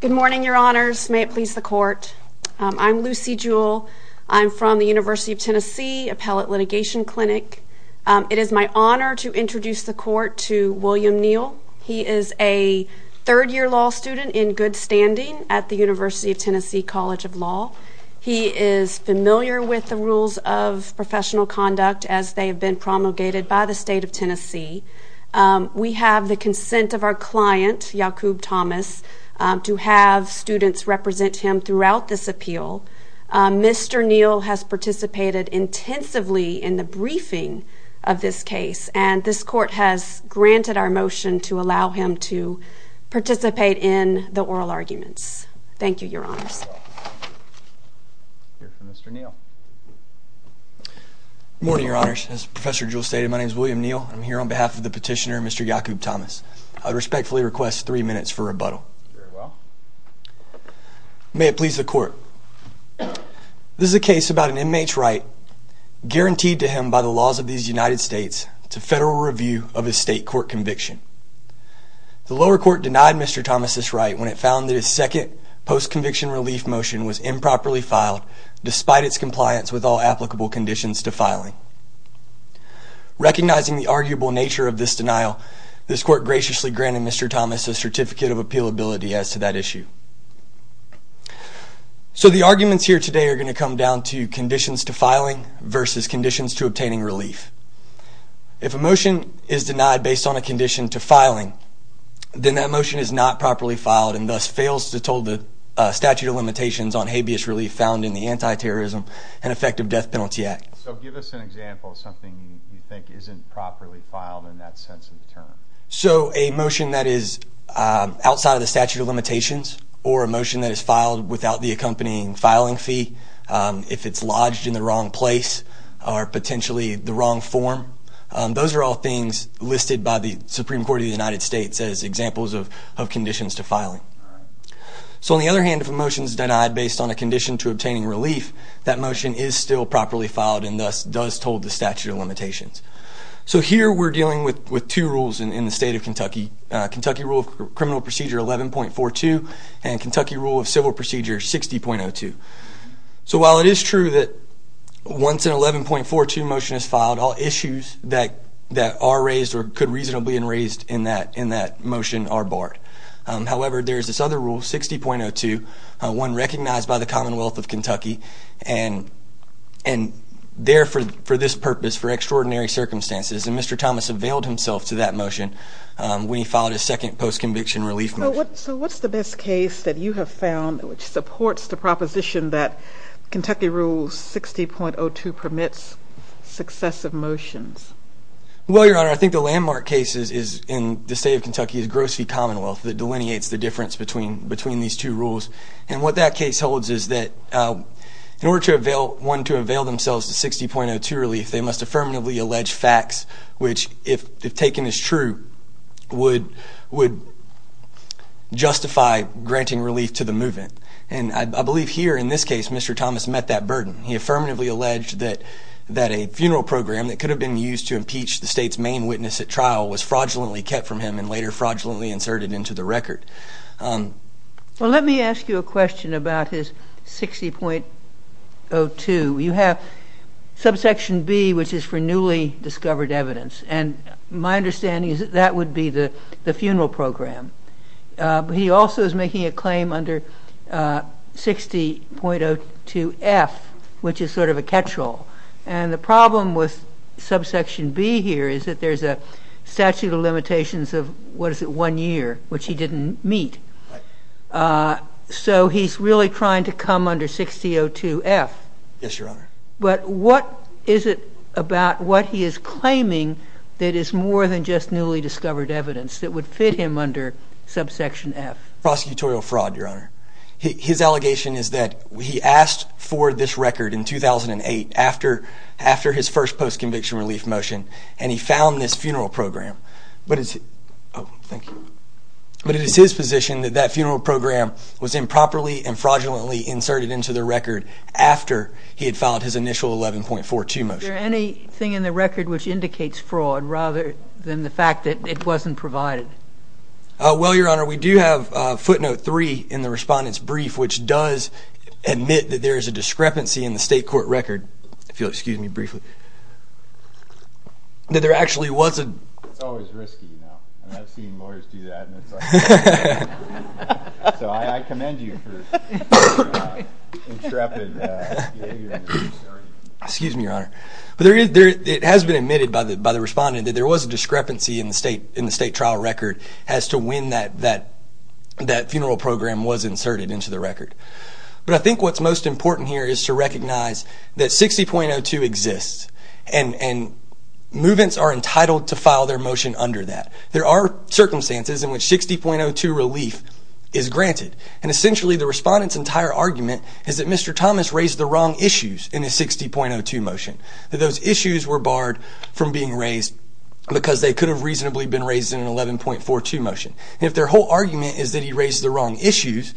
Good morning, your honors. May it please the court. I'm Lucy Jewell. I'm from the University of Tennessee Appellate Litigation Clinic. It is my honor to introduce the court to William Neal. He is a third year law student in good standing at the University of Tennessee College of Law. He is familiar with the rules of professional conduct as they have been promulgated by the state of Tennessee. We have the consent of our client, Yaqob Thomas, to have students represent him throughout this appeal. Mr. Neal has participated intensively in the briefing of this case and this court has granted our motion to allow him to participate in the oral arguments. Thank you, your honors. Good morning, your honors. As Professor Jewell stated, my name is William Neal. I'm here on behalf of the petitioner, Mr. Yaqob Thomas. I respectfully request three minutes for rebuttal. May it please the court. This is a case about an inmate's right guaranteed to him by the laws of these United States to federal review of a state court conviction. The lower court denied Mr. Thomas this right when it found that his second post-conviction relief motion was improperly filed despite its compliance with all applicable conditions to filing. Recognizing the arguable nature of this denial, this court graciously granted Mr. Thomas a certificate of appealability as to that issue. So the arguments here today are going to come down to conditions to filing versus conditions to obtaining relief. If a motion is denied based on a condition to filing, then that motion is not properly filed and thus fails to told the statute of limitations on habeas relief found in the Anti-Terrorism and Effective Death Penalty Act. So give us an example of something you think isn't properly filed in that sense of the term. So a motion that is outside of the statute of limitations or a motion that is filed without the accompanying filing fee, if it's lodged in the wrong place or potentially the wrong form, those are all things listed by the Supreme Court of the United States as examples of conditions to filing. So on the other hand, if a motion is denied based on a condition to obtaining relief, that motion is still properly filed and thus does told the statute of limitations. So here we're dealing with two rules in the state of Kentucky. Kentucky rule of criminal procedure 11.42 and Kentucky rule of civil procedure 60.02. So while it is true that once an 11.42 motion is filed, all issues that are raised or could reasonably be raised in that motion are barred. However, there's this other rule 60.02, one recognized by the Commonwealth of Kentucky and therefore for this purpose for extraordinary circumstances and Mr. Thomas availed himself to that motion when he filed his second post conviction relief motion. So what's the best case that you have found which supports the position that Kentucky rules 60.02 permits successive motions? Well, your honor, I think the landmark cases is in the state of Kentucky is gross fee Commonwealth that delineates the difference between between these two rules and what that case holds is that in order to avail one to avail themselves to 60.02 relief, they must affirmatively allege facts which if taken as true would would justify granting relief to the movement. And I believe here in this case, Mr. Thomas met that burden. He affirmatively alleged that that a funeral program that could have been used to impeach the state's main witness at trial was fraudulently kept from him and later fraudulently inserted into the record. Well, let me ask you a question about his 60.02. You have subsection B, which is for newly discovered evidence. And my understanding is that would be the funeral program. He also is making a claim under 60.02 F, which is sort of a catch-all. And the problem with subsection B here is that there's a statute of limitations of what is it one year which he didn't meet. So he's really trying to come under 60.02 F. But what is it about what he is claiming that is more than just newly discovered evidence that would fit him under subsection F? Prosecutorial fraud, Your Honor. His allegation is that he asked for this record in 2008 after after his first post conviction relief motion, and he found this funeral program. But it's Oh, thank you. But it is his position that that funeral program was improperly and fraudulently inserted into the record after he had filed his initial 11.42 motion. Is there anything in the record which indicates fraud rather than the fact that it wasn't provided? Well, Your Honor, we do have footnote three in the respondent's brief, which does admit that there is a discrepancy in the state court record, if you'll excuse me briefly, that there actually wasn't. It's always risky, you know. And I've seen lawyers do that. So I commend you for being so intrepid. Excuse me, Your Honor. But there is there it has been admitted by the by the respondent that there was a discrepancy in the state in the state trial record as to when that that that funeral program was inserted into the record. But I think what's most important here is to recognize that 60.02 exists and movements are entitled to file their motion under that. There are circumstances in which 60.02 relief is granted. And essentially, the respondent's entire argument is that Mr. Thomas raised the wrong issues in a 60.02 motion, that those issues were barred from being raised because they could have reasonably been raised in an 11.42 motion. If their whole argument is that he raised the wrong issues,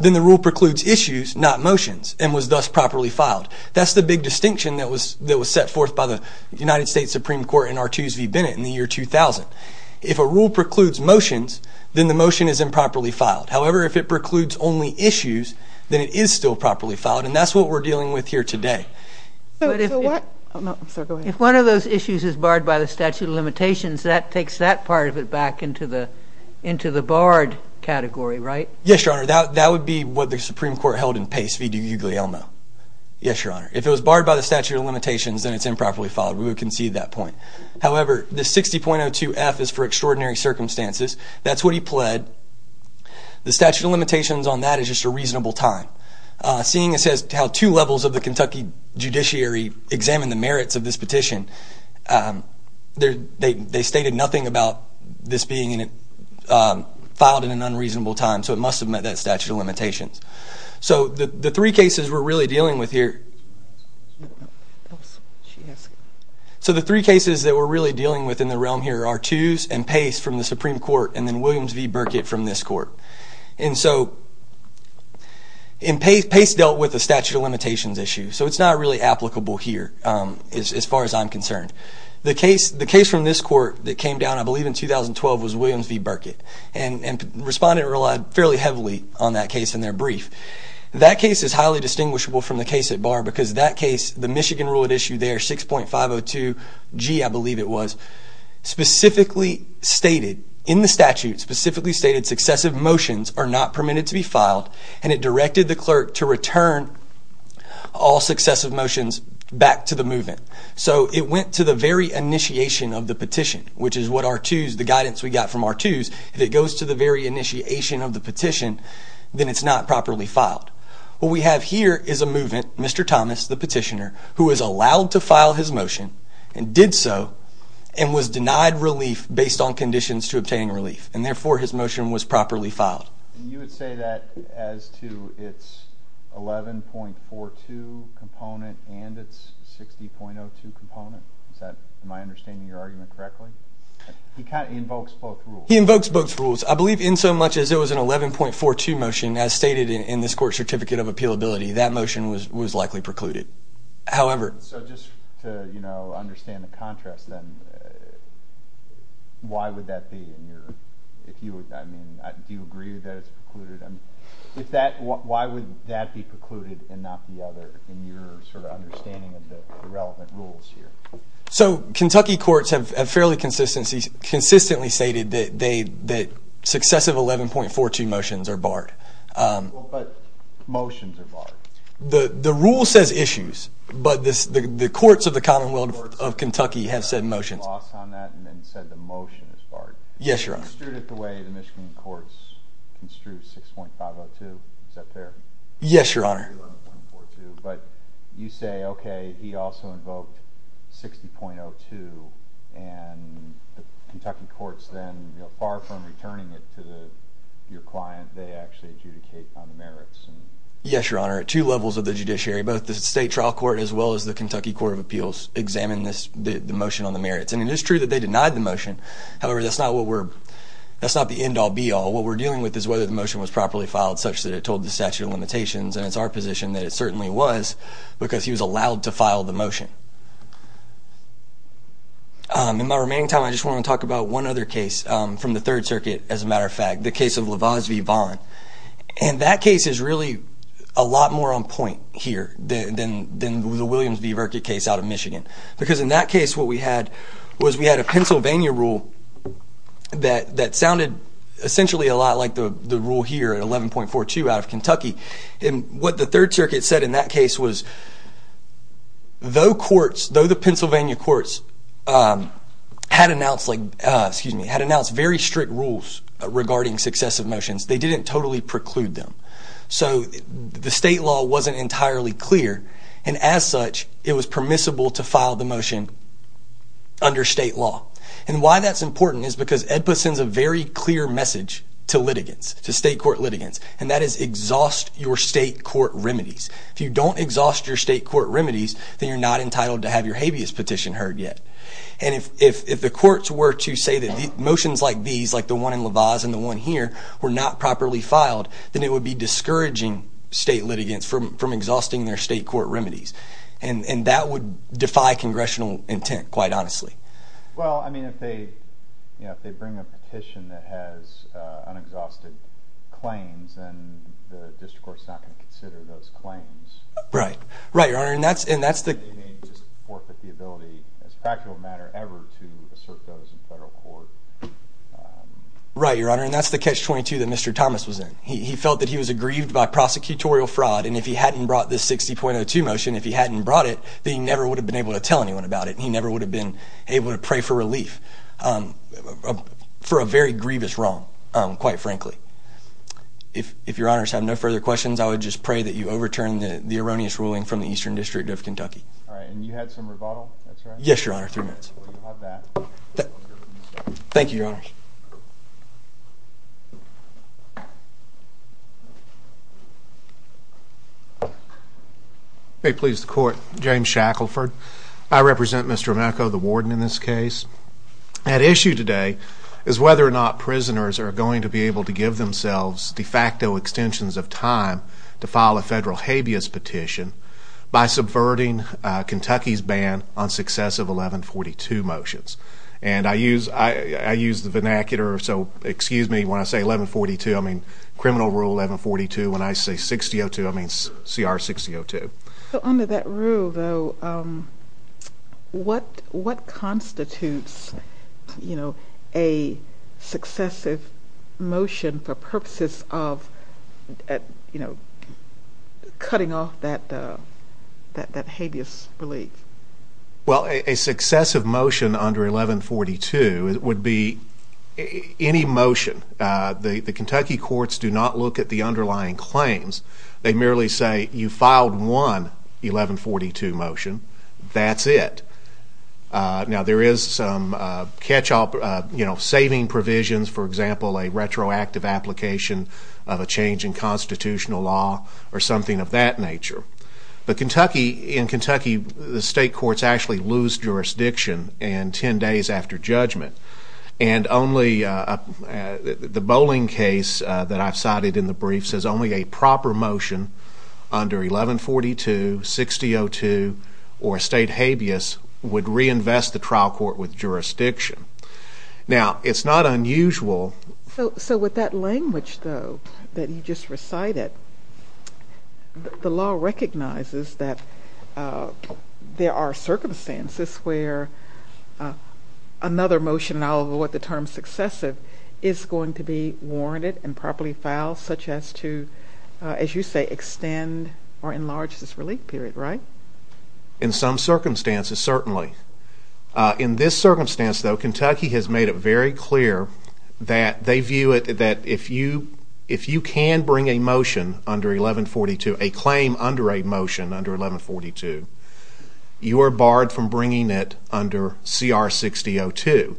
then the rule precludes issues, not motions, and was thus properly filed. That's the big distinction that was that was set forth by the United States Supreme Court in Artuse v. Bennett in the year 2000. If a rule precludes motions, then the motion is improperly filed. However, if it precludes only issues, then it is still properly filed. And that's what we're dealing with here today. If one of those issues is barred by the statute of limitations, that takes that part of it back into the into the barred category, right? Yes, Your Honor. That would be what the Supreme Court held in Pace v. D'Uglielmo. Yes, Your Honor. If it was barred by the statute of limitations, then it's improperly filed. We would concede that point. However, this 60.02 F is for extraordinary circumstances. That's what he pled. The statute of limitations on that is just a reasonable time. Seeing as how two levels of the Kentucky judiciary examined the merits of this petition, they stated nothing about this being filed in an unreasonable time. So it must have met that statute of limitations. So the three cases we're really dealing with here. So the three cases that we're really dealing with in the realm here are Artuse and Pace from the Supreme Court and then Williams v. Burkitt from this court. And so in Pace, Pace dealt with the statute of limitations issue. So it's not really applicable here, as far as I'm concerned. The case from this court that came down, I believe, in 2012 was Williams v. Burkitt. And the respondent relied fairly heavily on that case in their brief. That case is highly distinguishable from the case at bar because that case, the Michigan rule at issue there, 6.502 G, I believe it was, specifically stated in the statute, specifically stated successive motions are not permitted to be filed. And it directed the clerk to return all successive motions back to the movement. So it went to the very initiation of the petition, which is what Artuse, the guidance we got from Artuse, if it goes to the very initiation of the petition, then it's not properly filed. What we have here is a movement, Mr. Thomas, the petitioner, who is allowed to file his motion and did so and was denied relief based on conditions to obtain relief. And therefore his motion was properly filed. You would say that as to its 11.42 component and it's 60.02 component? Is that, am I understanding your argument correctly? He kind of invokes both rules. He invokes both rules. I believe in so much as it was an 11.42 motion, as stated in this court certificate of appealability, that motion was likely precluded. However, so just to, you know, understand the contrast, then why would that be in your, if you would, I mean, do you agree that it's precluded? If that, why would that be precluded and not the other in your sort of understanding of the relevant rules here? So Kentucky courts have fairly consistently stated that successive 11.42 motions are barred. But motions are barred? The rule says Commonwealth of Kentucky have said motions. You lost on that and then said the motion is barred. Yes, Your Honor. Construed it the way the Michigan courts construed 6.502. Is that fair? Yes, Your Honor. But you say, okay, he also invoked 60.02 and the Kentucky courts then, you know, far from returning it to the, your client, they actually adjudicate on the merits. Yes, Your Honor. At two levels of the judiciary, both the state trial court as well as the Kentucky courts examined this, the motion on the merits. And it is true that they denied the motion. However, that's not what we're, that's not the end all be all. What we're dealing with is whether the motion was properly filed such that it told the statute of limitations. And it's our position that it certainly was because he was allowed to file the motion. Um, in my remaining time, I just want to talk about one other case, um, from the third circuit, as a matter of fact, the case of Lavaz V. Vaughn. And that case is really a lot more on point here than, than the Williams v. Verket case out of Michigan. Because in that case, what we had was we had a Pennsylvania rule that, that sounded essentially a lot like the rule here at 11.42 out of Kentucky. And what the third circuit said in that case was, though courts, though the Pennsylvania courts, um, had announced like, uh, excuse me, had announced very strict rules regarding successive motions, they didn't totally preclude them. So the state law wasn't entirely clear. And as such, it was permissible to file the motion under state law. And why that's important is because EDPA sends a very clear message to litigants, to state court litigants, and that is exhaust your state court remedies. If you don't exhaust your state court remedies, then you're not entitled to have your habeas petition heard yet. And if, if, if the courts were to say that the motions like these, like the one in Lavaz and the one here were not properly filed, then it would be discouraging state court remedies. And, and that would defy congressional intent, quite honestly. Well, I mean, if they, you know, if they bring a petition that has, uh, unexhausted claims, then the district court's not going to consider those claims. Right. Right, Your Honor. And that's, and that's the. They may just forfeit the ability as a practical matter ever to assert those in federal court. Um. Right, Your Honor. And that's the catch-22 that Mr. Thomas was in. He, he felt that he was aggrieved by prosecutorial fraud. And if he hadn't brought this 60.02 motion, if he hadn't brought it, they never would have been able to tell anyone about it. And he never would have been able to pray for relief, um, for a very grievous wrong. Um, quite frankly, if, if Your Honor's have no further questions, I would just pray that you overturn the erroneous ruling from the Eastern District of Kentucky. All right. And you had some rebuttal. Yes, Your Honors. May it please the court. James Shackelford. I represent Mr. Emeko, the warden in this case. At issue today is whether or not prisoners are going to be able to give themselves de facto extensions of time to file a federal habeas petition by subverting, uh, what is the vernacular? So, excuse me, when I say 1142, I mean, criminal rule 1142. When I say 60.02, I mean, CR 60.02. So, under that rule, though, um, what, what constitutes, you know, a successive motion for purposes of, at, you know, cutting off that, uh, that, that habeas relief? Well, a, a successive motion under 1142 would be any motion. Uh, the, the Kentucky courts do not look at the underlying claims. They merely say, you filed one 1142 motion. That's it. Uh, now there is some, uh, catch up, uh, you know, saving provisions, for example, a the state courts actually lose jurisdiction in 10 days after judgment. And only, uh, uh, the, the bowling case, uh, that I've cited in the briefs is only a proper motion under 1142, 60.02, or state habeas would reinvest the trial court with jurisdiction. Now, it's not unusual. So, so with that there are circumstances where, uh, another motion, in all of what the term successive, is going to be warranted and properly filed, such as to, uh, as you say, extend or enlarge this relief period, right? In some circumstances, certainly. Uh, in this circumstance, though, Kentucky has made it very you are barred from bringing it under CR 60.02,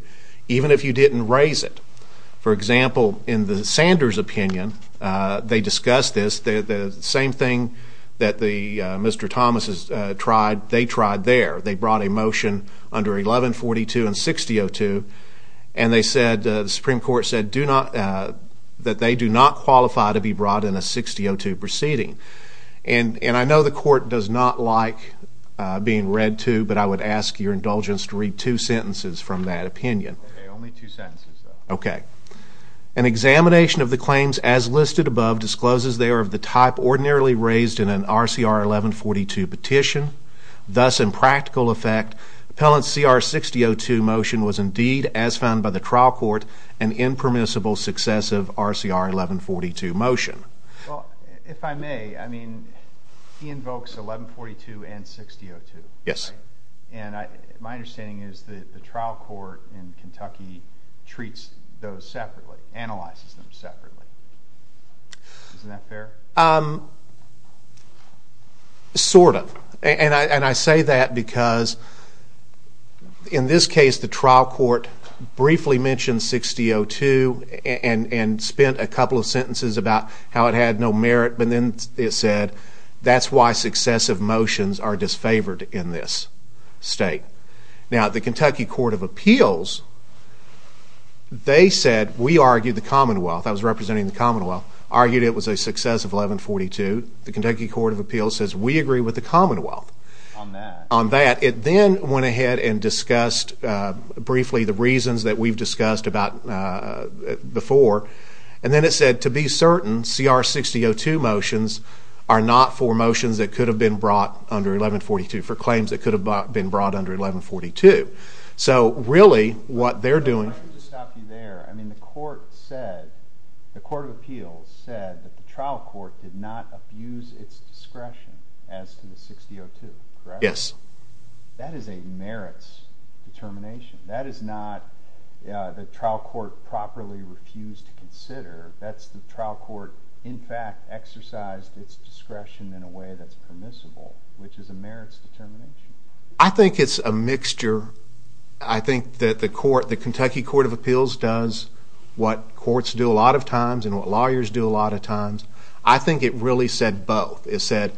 even if you didn't raise it. For example, in the Sanders opinion, uh, they discussed this, the, the same thing that the, uh, Mr. Thomas has, uh, tried, they tried there. They brought a motion under 1142 and 60.02, and they said, uh, the Supreme Court said, do not, uh, that they do not qualify to be brought in a 60.02 proceeding. And, and I know the court does not like, uh, being read to, but I would ask your indulgence to read two sentences from that opinion. Okay, only two sentences, though. Okay. An examination of the claims as listed above discloses they are of the type ordinarily raised in an RCR 1142 petition. Thus, in practical effect, appellant's CR 60.02 motion was indeed, as found by the trial court, an impermissible successive RCR 1142 motion. Well, if I may, I mean, he invokes 1142 and 60.02. Yes. And I, my understanding is that the trial court in Kentucky treats those separately, analyzes them separately. Isn't that fair? Um, sort of. And I, and I say that because, in this case, the trial court briefly mentioned 60.02 and, and spent a couple of sentences about how it had no merit, but then it said, that's why successive motions are disfavored in this state. Now, the Kentucky Court of Appeals, they said, we argued the Commonwealth, I was representing the Commonwealth, argued it was a successive 1142. The reasons that we've discussed about, uh, before. And then it said, to be certain, CR 60.02 motions are not for motions that could have been brought under 1142, for claims that could have been brought under 1142. So, really, what they're doing. Let me just stop you there. I mean, the court said, the Court of Appeals said that the trial court properly refused to consider. That's the trial court, in fact, exercised its discretion in a way that's permissible, which is a merits determination. I think it's a mixture. I think that the court, the Kentucky Court of Appeals does what courts do a lot of times and what lawyers do a lot of times. I think it really said both. It And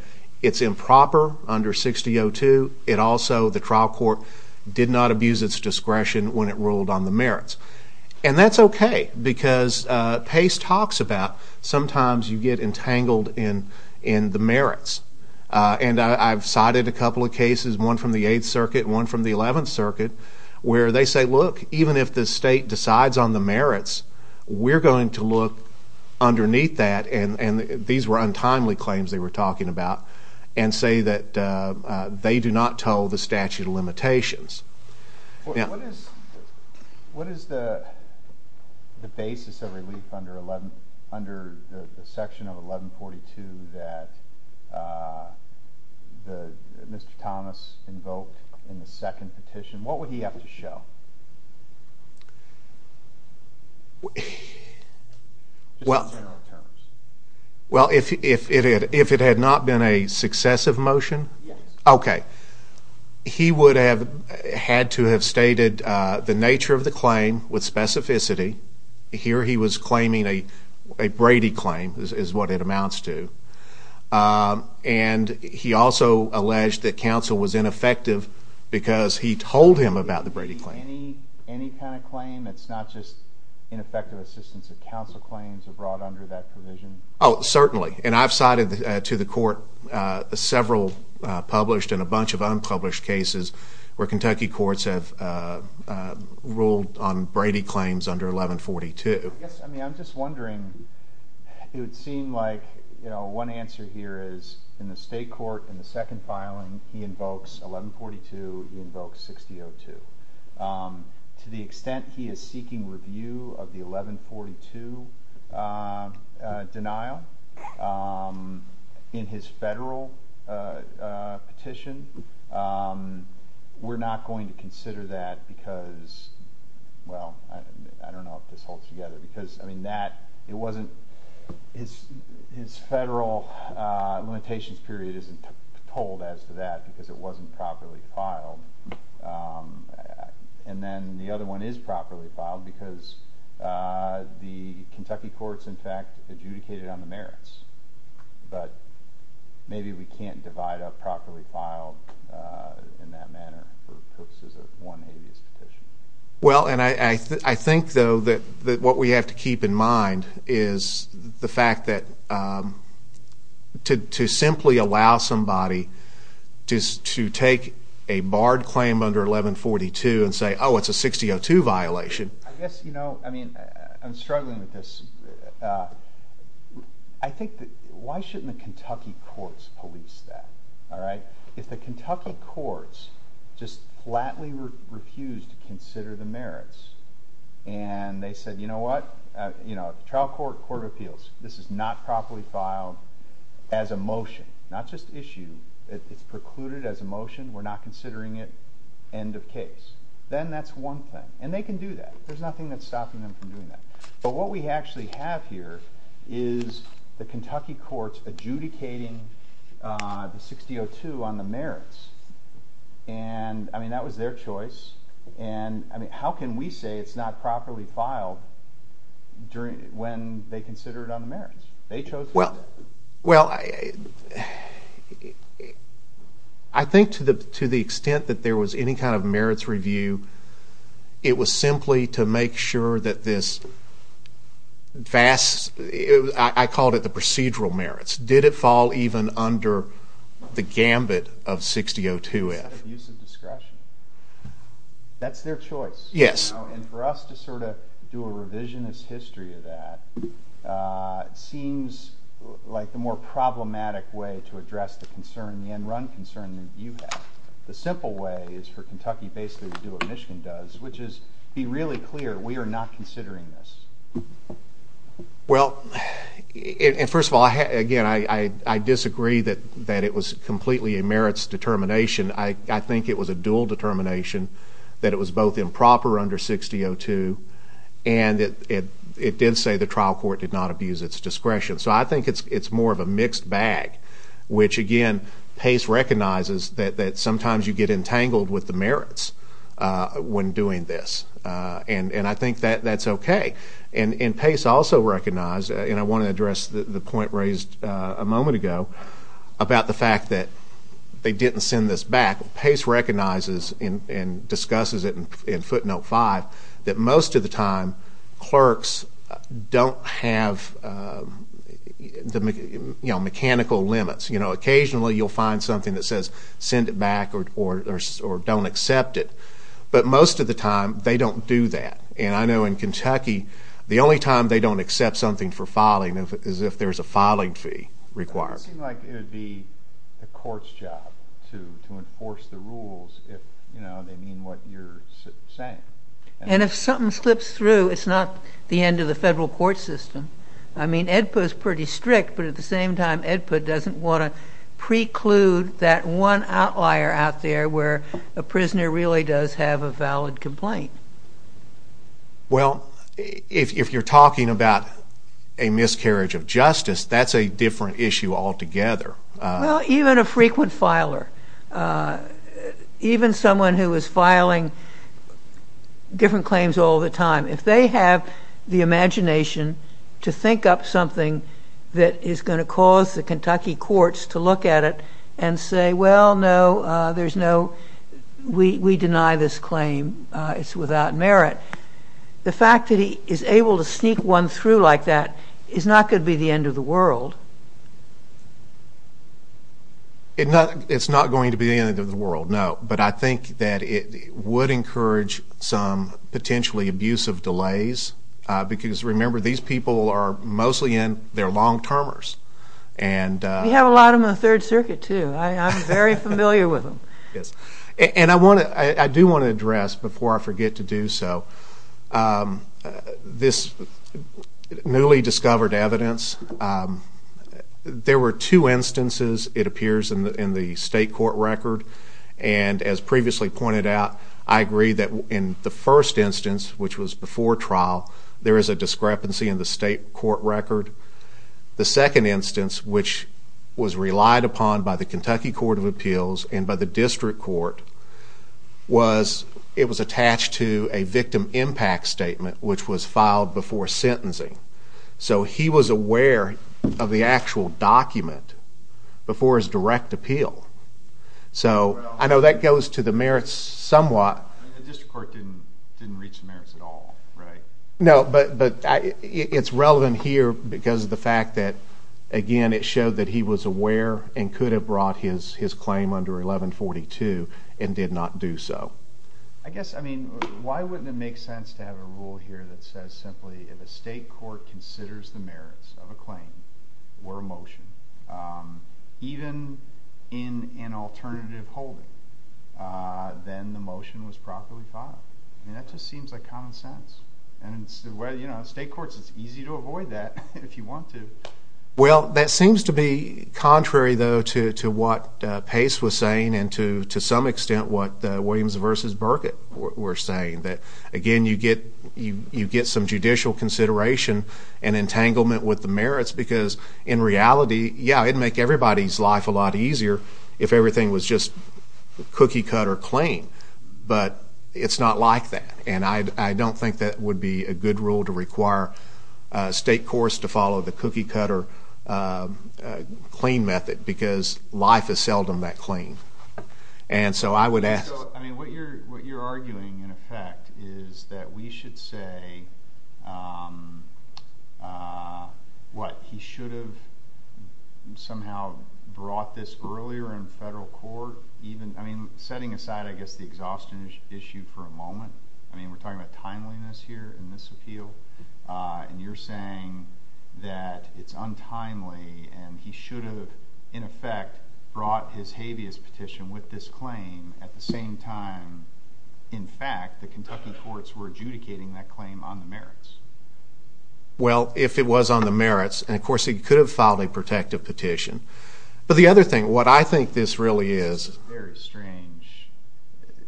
that's okay, because Pace talks about, sometimes you get entangled in the merits. And I've cited a couple of cases, one from the 8th Circuit, one from the 11th Circuit, where they say, look, even if the state decides on the merits, we're going to look underneath that, and these were untimely claims they were talking about, and say that they do not toe the statute of limitations. What is the basis of relief under the section of 1142 that Mr. Thomas invoked in the second petition? What would he have to show? Well, if it had not been a successive motion, okay, he would have had to have stated the nature of the claim with specificity. Here he was claiming a Brady claim, is what it amounts to, and he also alleged that counsel was ineffective because he told him about the Brady claim. Does that apply to any kind of claim? It's not just ineffective assistance of counsel claims are brought under that provision? Oh, certainly. And I've cited to the court several published and a bunch of unpublished cases where Kentucky courts have ruled on Brady claims under 1142. I guess, I mean, I'm just wondering, it would seem like, you know, one answer here is in the state court, in the second filing, he invokes 1142, he invokes 1602. To the extent he is seeking review of the 1142 denial in his federal petition, we're not going to consider that because, well, I don't know if this holds together. Because, I mean, that, it wasn't, his federal limitations period isn't told as to that because it wasn't properly filed. And then the other one is properly filed because the Kentucky courts, in fact, adjudicated on the merits. But maybe we can't divide up properly filed in that manner for purposes of one habeas petition. Well, and I think, though, that what we have to keep in mind is the fact that to simply allow somebody to take a barred claim under 1142 and say, oh, it's a 1602 violation. I guess, you know, I mean, I'm struggling with this. I think that, why shouldn't the Kentucky courts police that, all right? If the Kentucky courts just flatly refused to consider the merits and they said, you know what, you know, trial court, court of appeals, this is not properly filed as a motion, not just issue, it's precluded as a motion, we're not considering it, end of case. Then that's one thing. And they can do that. There's nothing that's stopping them from doing that. But what we actually have here is the Kentucky courts adjudicating the 1602 on the merits. And, I mean, that was their choice. And, I mean, how can we say it's not properly filed when they consider it on the merits? They chose to do it. Well, I think to the extent that there was any kind of merits review, it was simply to make sure that this vast, I called it the procedural merits. Did it fall even under the gambit of 1602F? That's their choice. And for us to sort of do a revisionist history of that seems like the more problematic way to address the concern, the end run concern that you have. The simple way is for Kentucky basically to do what Michigan does, which is be really clear, we are not considering this. Well, first of all, again, I disagree that it was completely a merits determination. I think it was a dual determination that it was both improper under 1602 and it did say the trial court did not abuse its discretion. So I think it's more of a mixed bag, which, again, Pace recognizes that sometimes you get entangled with the merits when doing this. And I think that's okay. And Pace also recognized, and I want to address the point raised a moment ago about the fact that they didn't send this back. Pace recognizes and discusses it in footnote 5 that most of the time clerks don't have mechanical limits. Occasionally you'll find something that says send it back or don't accept it. But most of the time they don't do that. And I know in Kentucky the only time they don't accept something for filing is if there's a filing fee required. It would seem like it would be the court's job to enforce the rules if they mean what you're saying. And if something slips through, it's not the end of the federal court system. I mean, EDPA is pretty strict, but at the same time EDPA doesn't want to preclude that one outlier out there where a prisoner really does have a valid complaint. Well, if you're talking about a miscarriage of justice, that's a different issue altogether. Well, even a frequent filer, even someone who is filing different claims all the time, if they have the imagination to think up something that is going to cause the Kentucky courts to look at it and say, well, no, there's no, we deny this claim, it's without merit, the fact that he is able to sneak one through like that is not going to be the end of the world. It's not going to be the end of the world, no, but I think that it would encourage some potentially abusive delays because, remember, these people are mostly in, they're long-termers. We have a lot of them in the Third Circuit, too. I'm very familiar with them. And I do want to address, before I forget to do so, this newly discovered evidence. There were two instances, it appears, in the state court record, and as previously pointed out, I agree that in the first instance, which was before trial, there is a discrepancy in the state court record. The second instance, which was relied upon by the Kentucky Court of Appeals and by the district court, was, it was attached to a victim impact statement, which was filed before sentencing. So he was aware of the actual document before his direct appeal. So, I know that goes to the merits somewhat. The district court didn't reach the merits at all, right? No, but it's relevant here because of the fact that, again, it showed that he was aware and could have brought his claim under 1142 and did not do so. I guess, I mean, why wouldn't it make sense to have a rule here that says simply, if a state court considers the merits of a claim or a motion, even in an alternative holding, then the motion was properly filed? I mean, that just seems like common sense. And, you know, in state courts, it's easy to avoid that if you want to. Well, that seems to be contrary, though, to what Pace was saying and to some extent what Williams v. Burkitt were saying. That, again, you get some judicial consideration and entanglement with the merits because, in reality, yeah, it'd make everybody's life a lot easier if everything was just cookie-cut or clean. But it's not like that, and I don't think that would be a good rule to require state courts to follow the cookie-cut or clean method because life is seldom that clean. And so I would ask— I mean, what you're arguing, in effect, is that we should say, what, he should have somehow brought this earlier in federal court? I mean, setting aside, I guess, the exhaustion issue for a moment, I mean, we're talking about timeliness here in this appeal. And you're saying that it's untimely and he should have, in effect, brought his habeas petition with this claim at the same time, in fact, the Kentucky courts were adjudicating that claim on the merits. Well, if it was on the merits, and, of course, he could have filed a protective petition. But the other thing, what I think this really is— This is a very strange,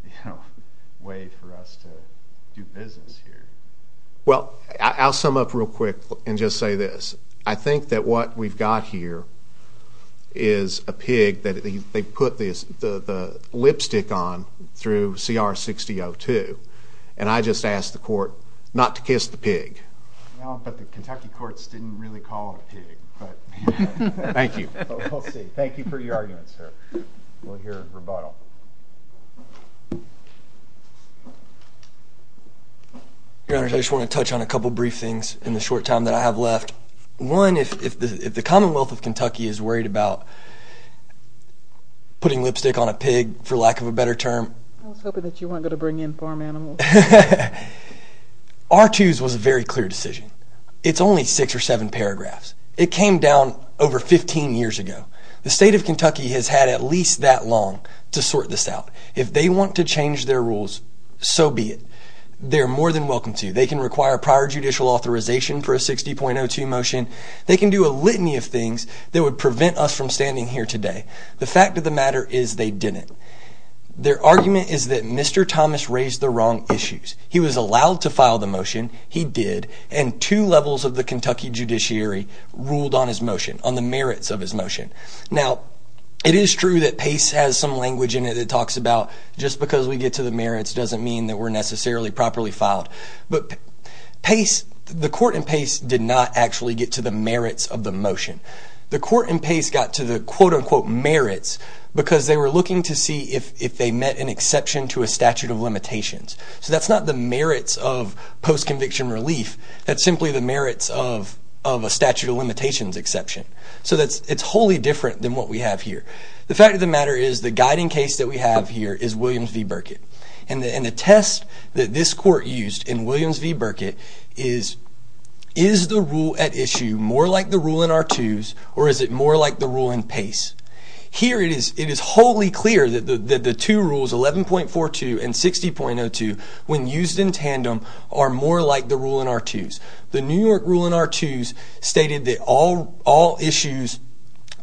you know, way for us to do business here. Well, I'll sum up real quick and just say this. I think that what we've got here is a pig that they put the lipstick on through CR 6002, and I just asked the court not to kiss the pig. Well, but the Kentucky courts didn't really call it a pig. Thank you. We'll see. Thank you for your argument, sir. We'll hear a rebuttal. Your Honor, I just want to touch on a couple brief things in the short time that I have left. One, if the Commonwealth of Kentucky is worried about putting lipstick on a pig, for lack of a better term— I was hoping that you weren't going to bring in farm animals. R2's was a very clear decision. It's only six or seven paragraphs. It came down over 15 years ago. The state of Kentucky has had at least that long to sort this out. If they want to change their rules, so be it. They're more than welcome to. They can require prior judicial authorization for a 60.02 motion. They can do a litany of things that would prevent us from standing here today. The fact of the matter is they didn't. Their argument is that Mr. Thomas raised the wrong issues. He was allowed to file the motion. He did, and two levels of the Kentucky judiciary ruled on his motion, on the merits of his motion. Now, it is true that PACE has some language in it that talks about, just because we get to the merits doesn't mean that we're necessarily properly filed. But the court in PACE did not actually get to the merits of the motion. The court in PACE got to the, quote-unquote, merits, because they were looking to see if they met an exception to a statute of limitations. So that's not the merits of post-conviction relief. That's simply the merits of a statute of limitations exception. So it's wholly different than what we have here. The fact of the matter is the guiding case that we have here is Williams v. Burkitt. And the test that this court used in Williams v. Burkitt is, is the rule at issue more like the rule in R2s, or is it more like the rule in PACE? Here it is wholly clear that the two rules, 11.42 and 60.02, when used in tandem, are more like the rule in R2s. The New York rule in R2s stated that all issues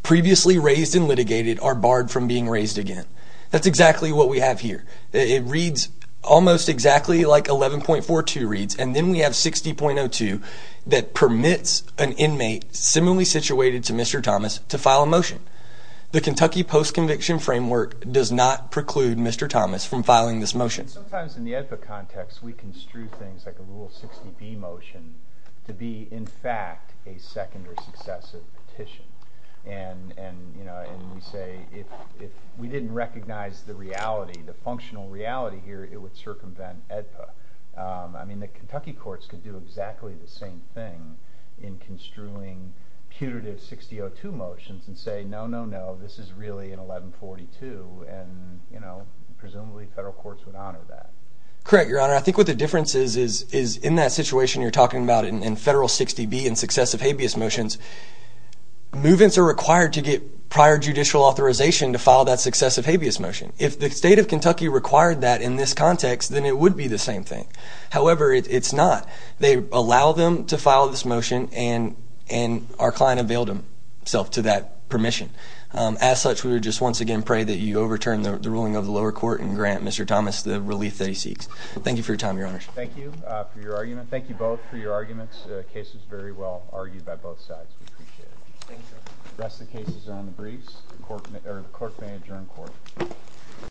previously raised and litigated are barred from being raised again. That's exactly what we have here. It reads almost exactly like 11.42 reads, and then we have 60.02 that permits an inmate similarly situated to Mr. Thomas to file a motion. The Kentucky post-conviction framework does not preclude Mr. Thomas from filing this motion. And sometimes in the AEDPA context we construe things like a Rule 60B motion to be in fact a second or successive petition. And we say if we didn't recognize the reality, the functional reality here, it would circumvent AEDPA. I mean the Kentucky courts could do exactly the same thing in construing putative 60.02 motions and say, no, no, no, this is really an 11.42, and presumably federal courts would honor that. Correct, Your Honor. I think what the difference is is in that situation you're talking about in Federal 60B and successive habeas motions, move-ins are required to get prior judicial authorization to file that successive habeas motion. If the state of Kentucky required that in this context, then it would be the same thing. However, it's not. They allow them to file this motion, and our client availed himself to that permission. As such, we would just once again pray that you overturn the ruling of the lower court and grant Mr. Thomas the relief that he seeks. Thank you for your time, Your Honor. Thank you for your argument. Thank you both for your arguments. The case was very well argued by both sides. We appreciate it. Thank you. The rest of the cases are on the briefs. The clerk may adjourn court.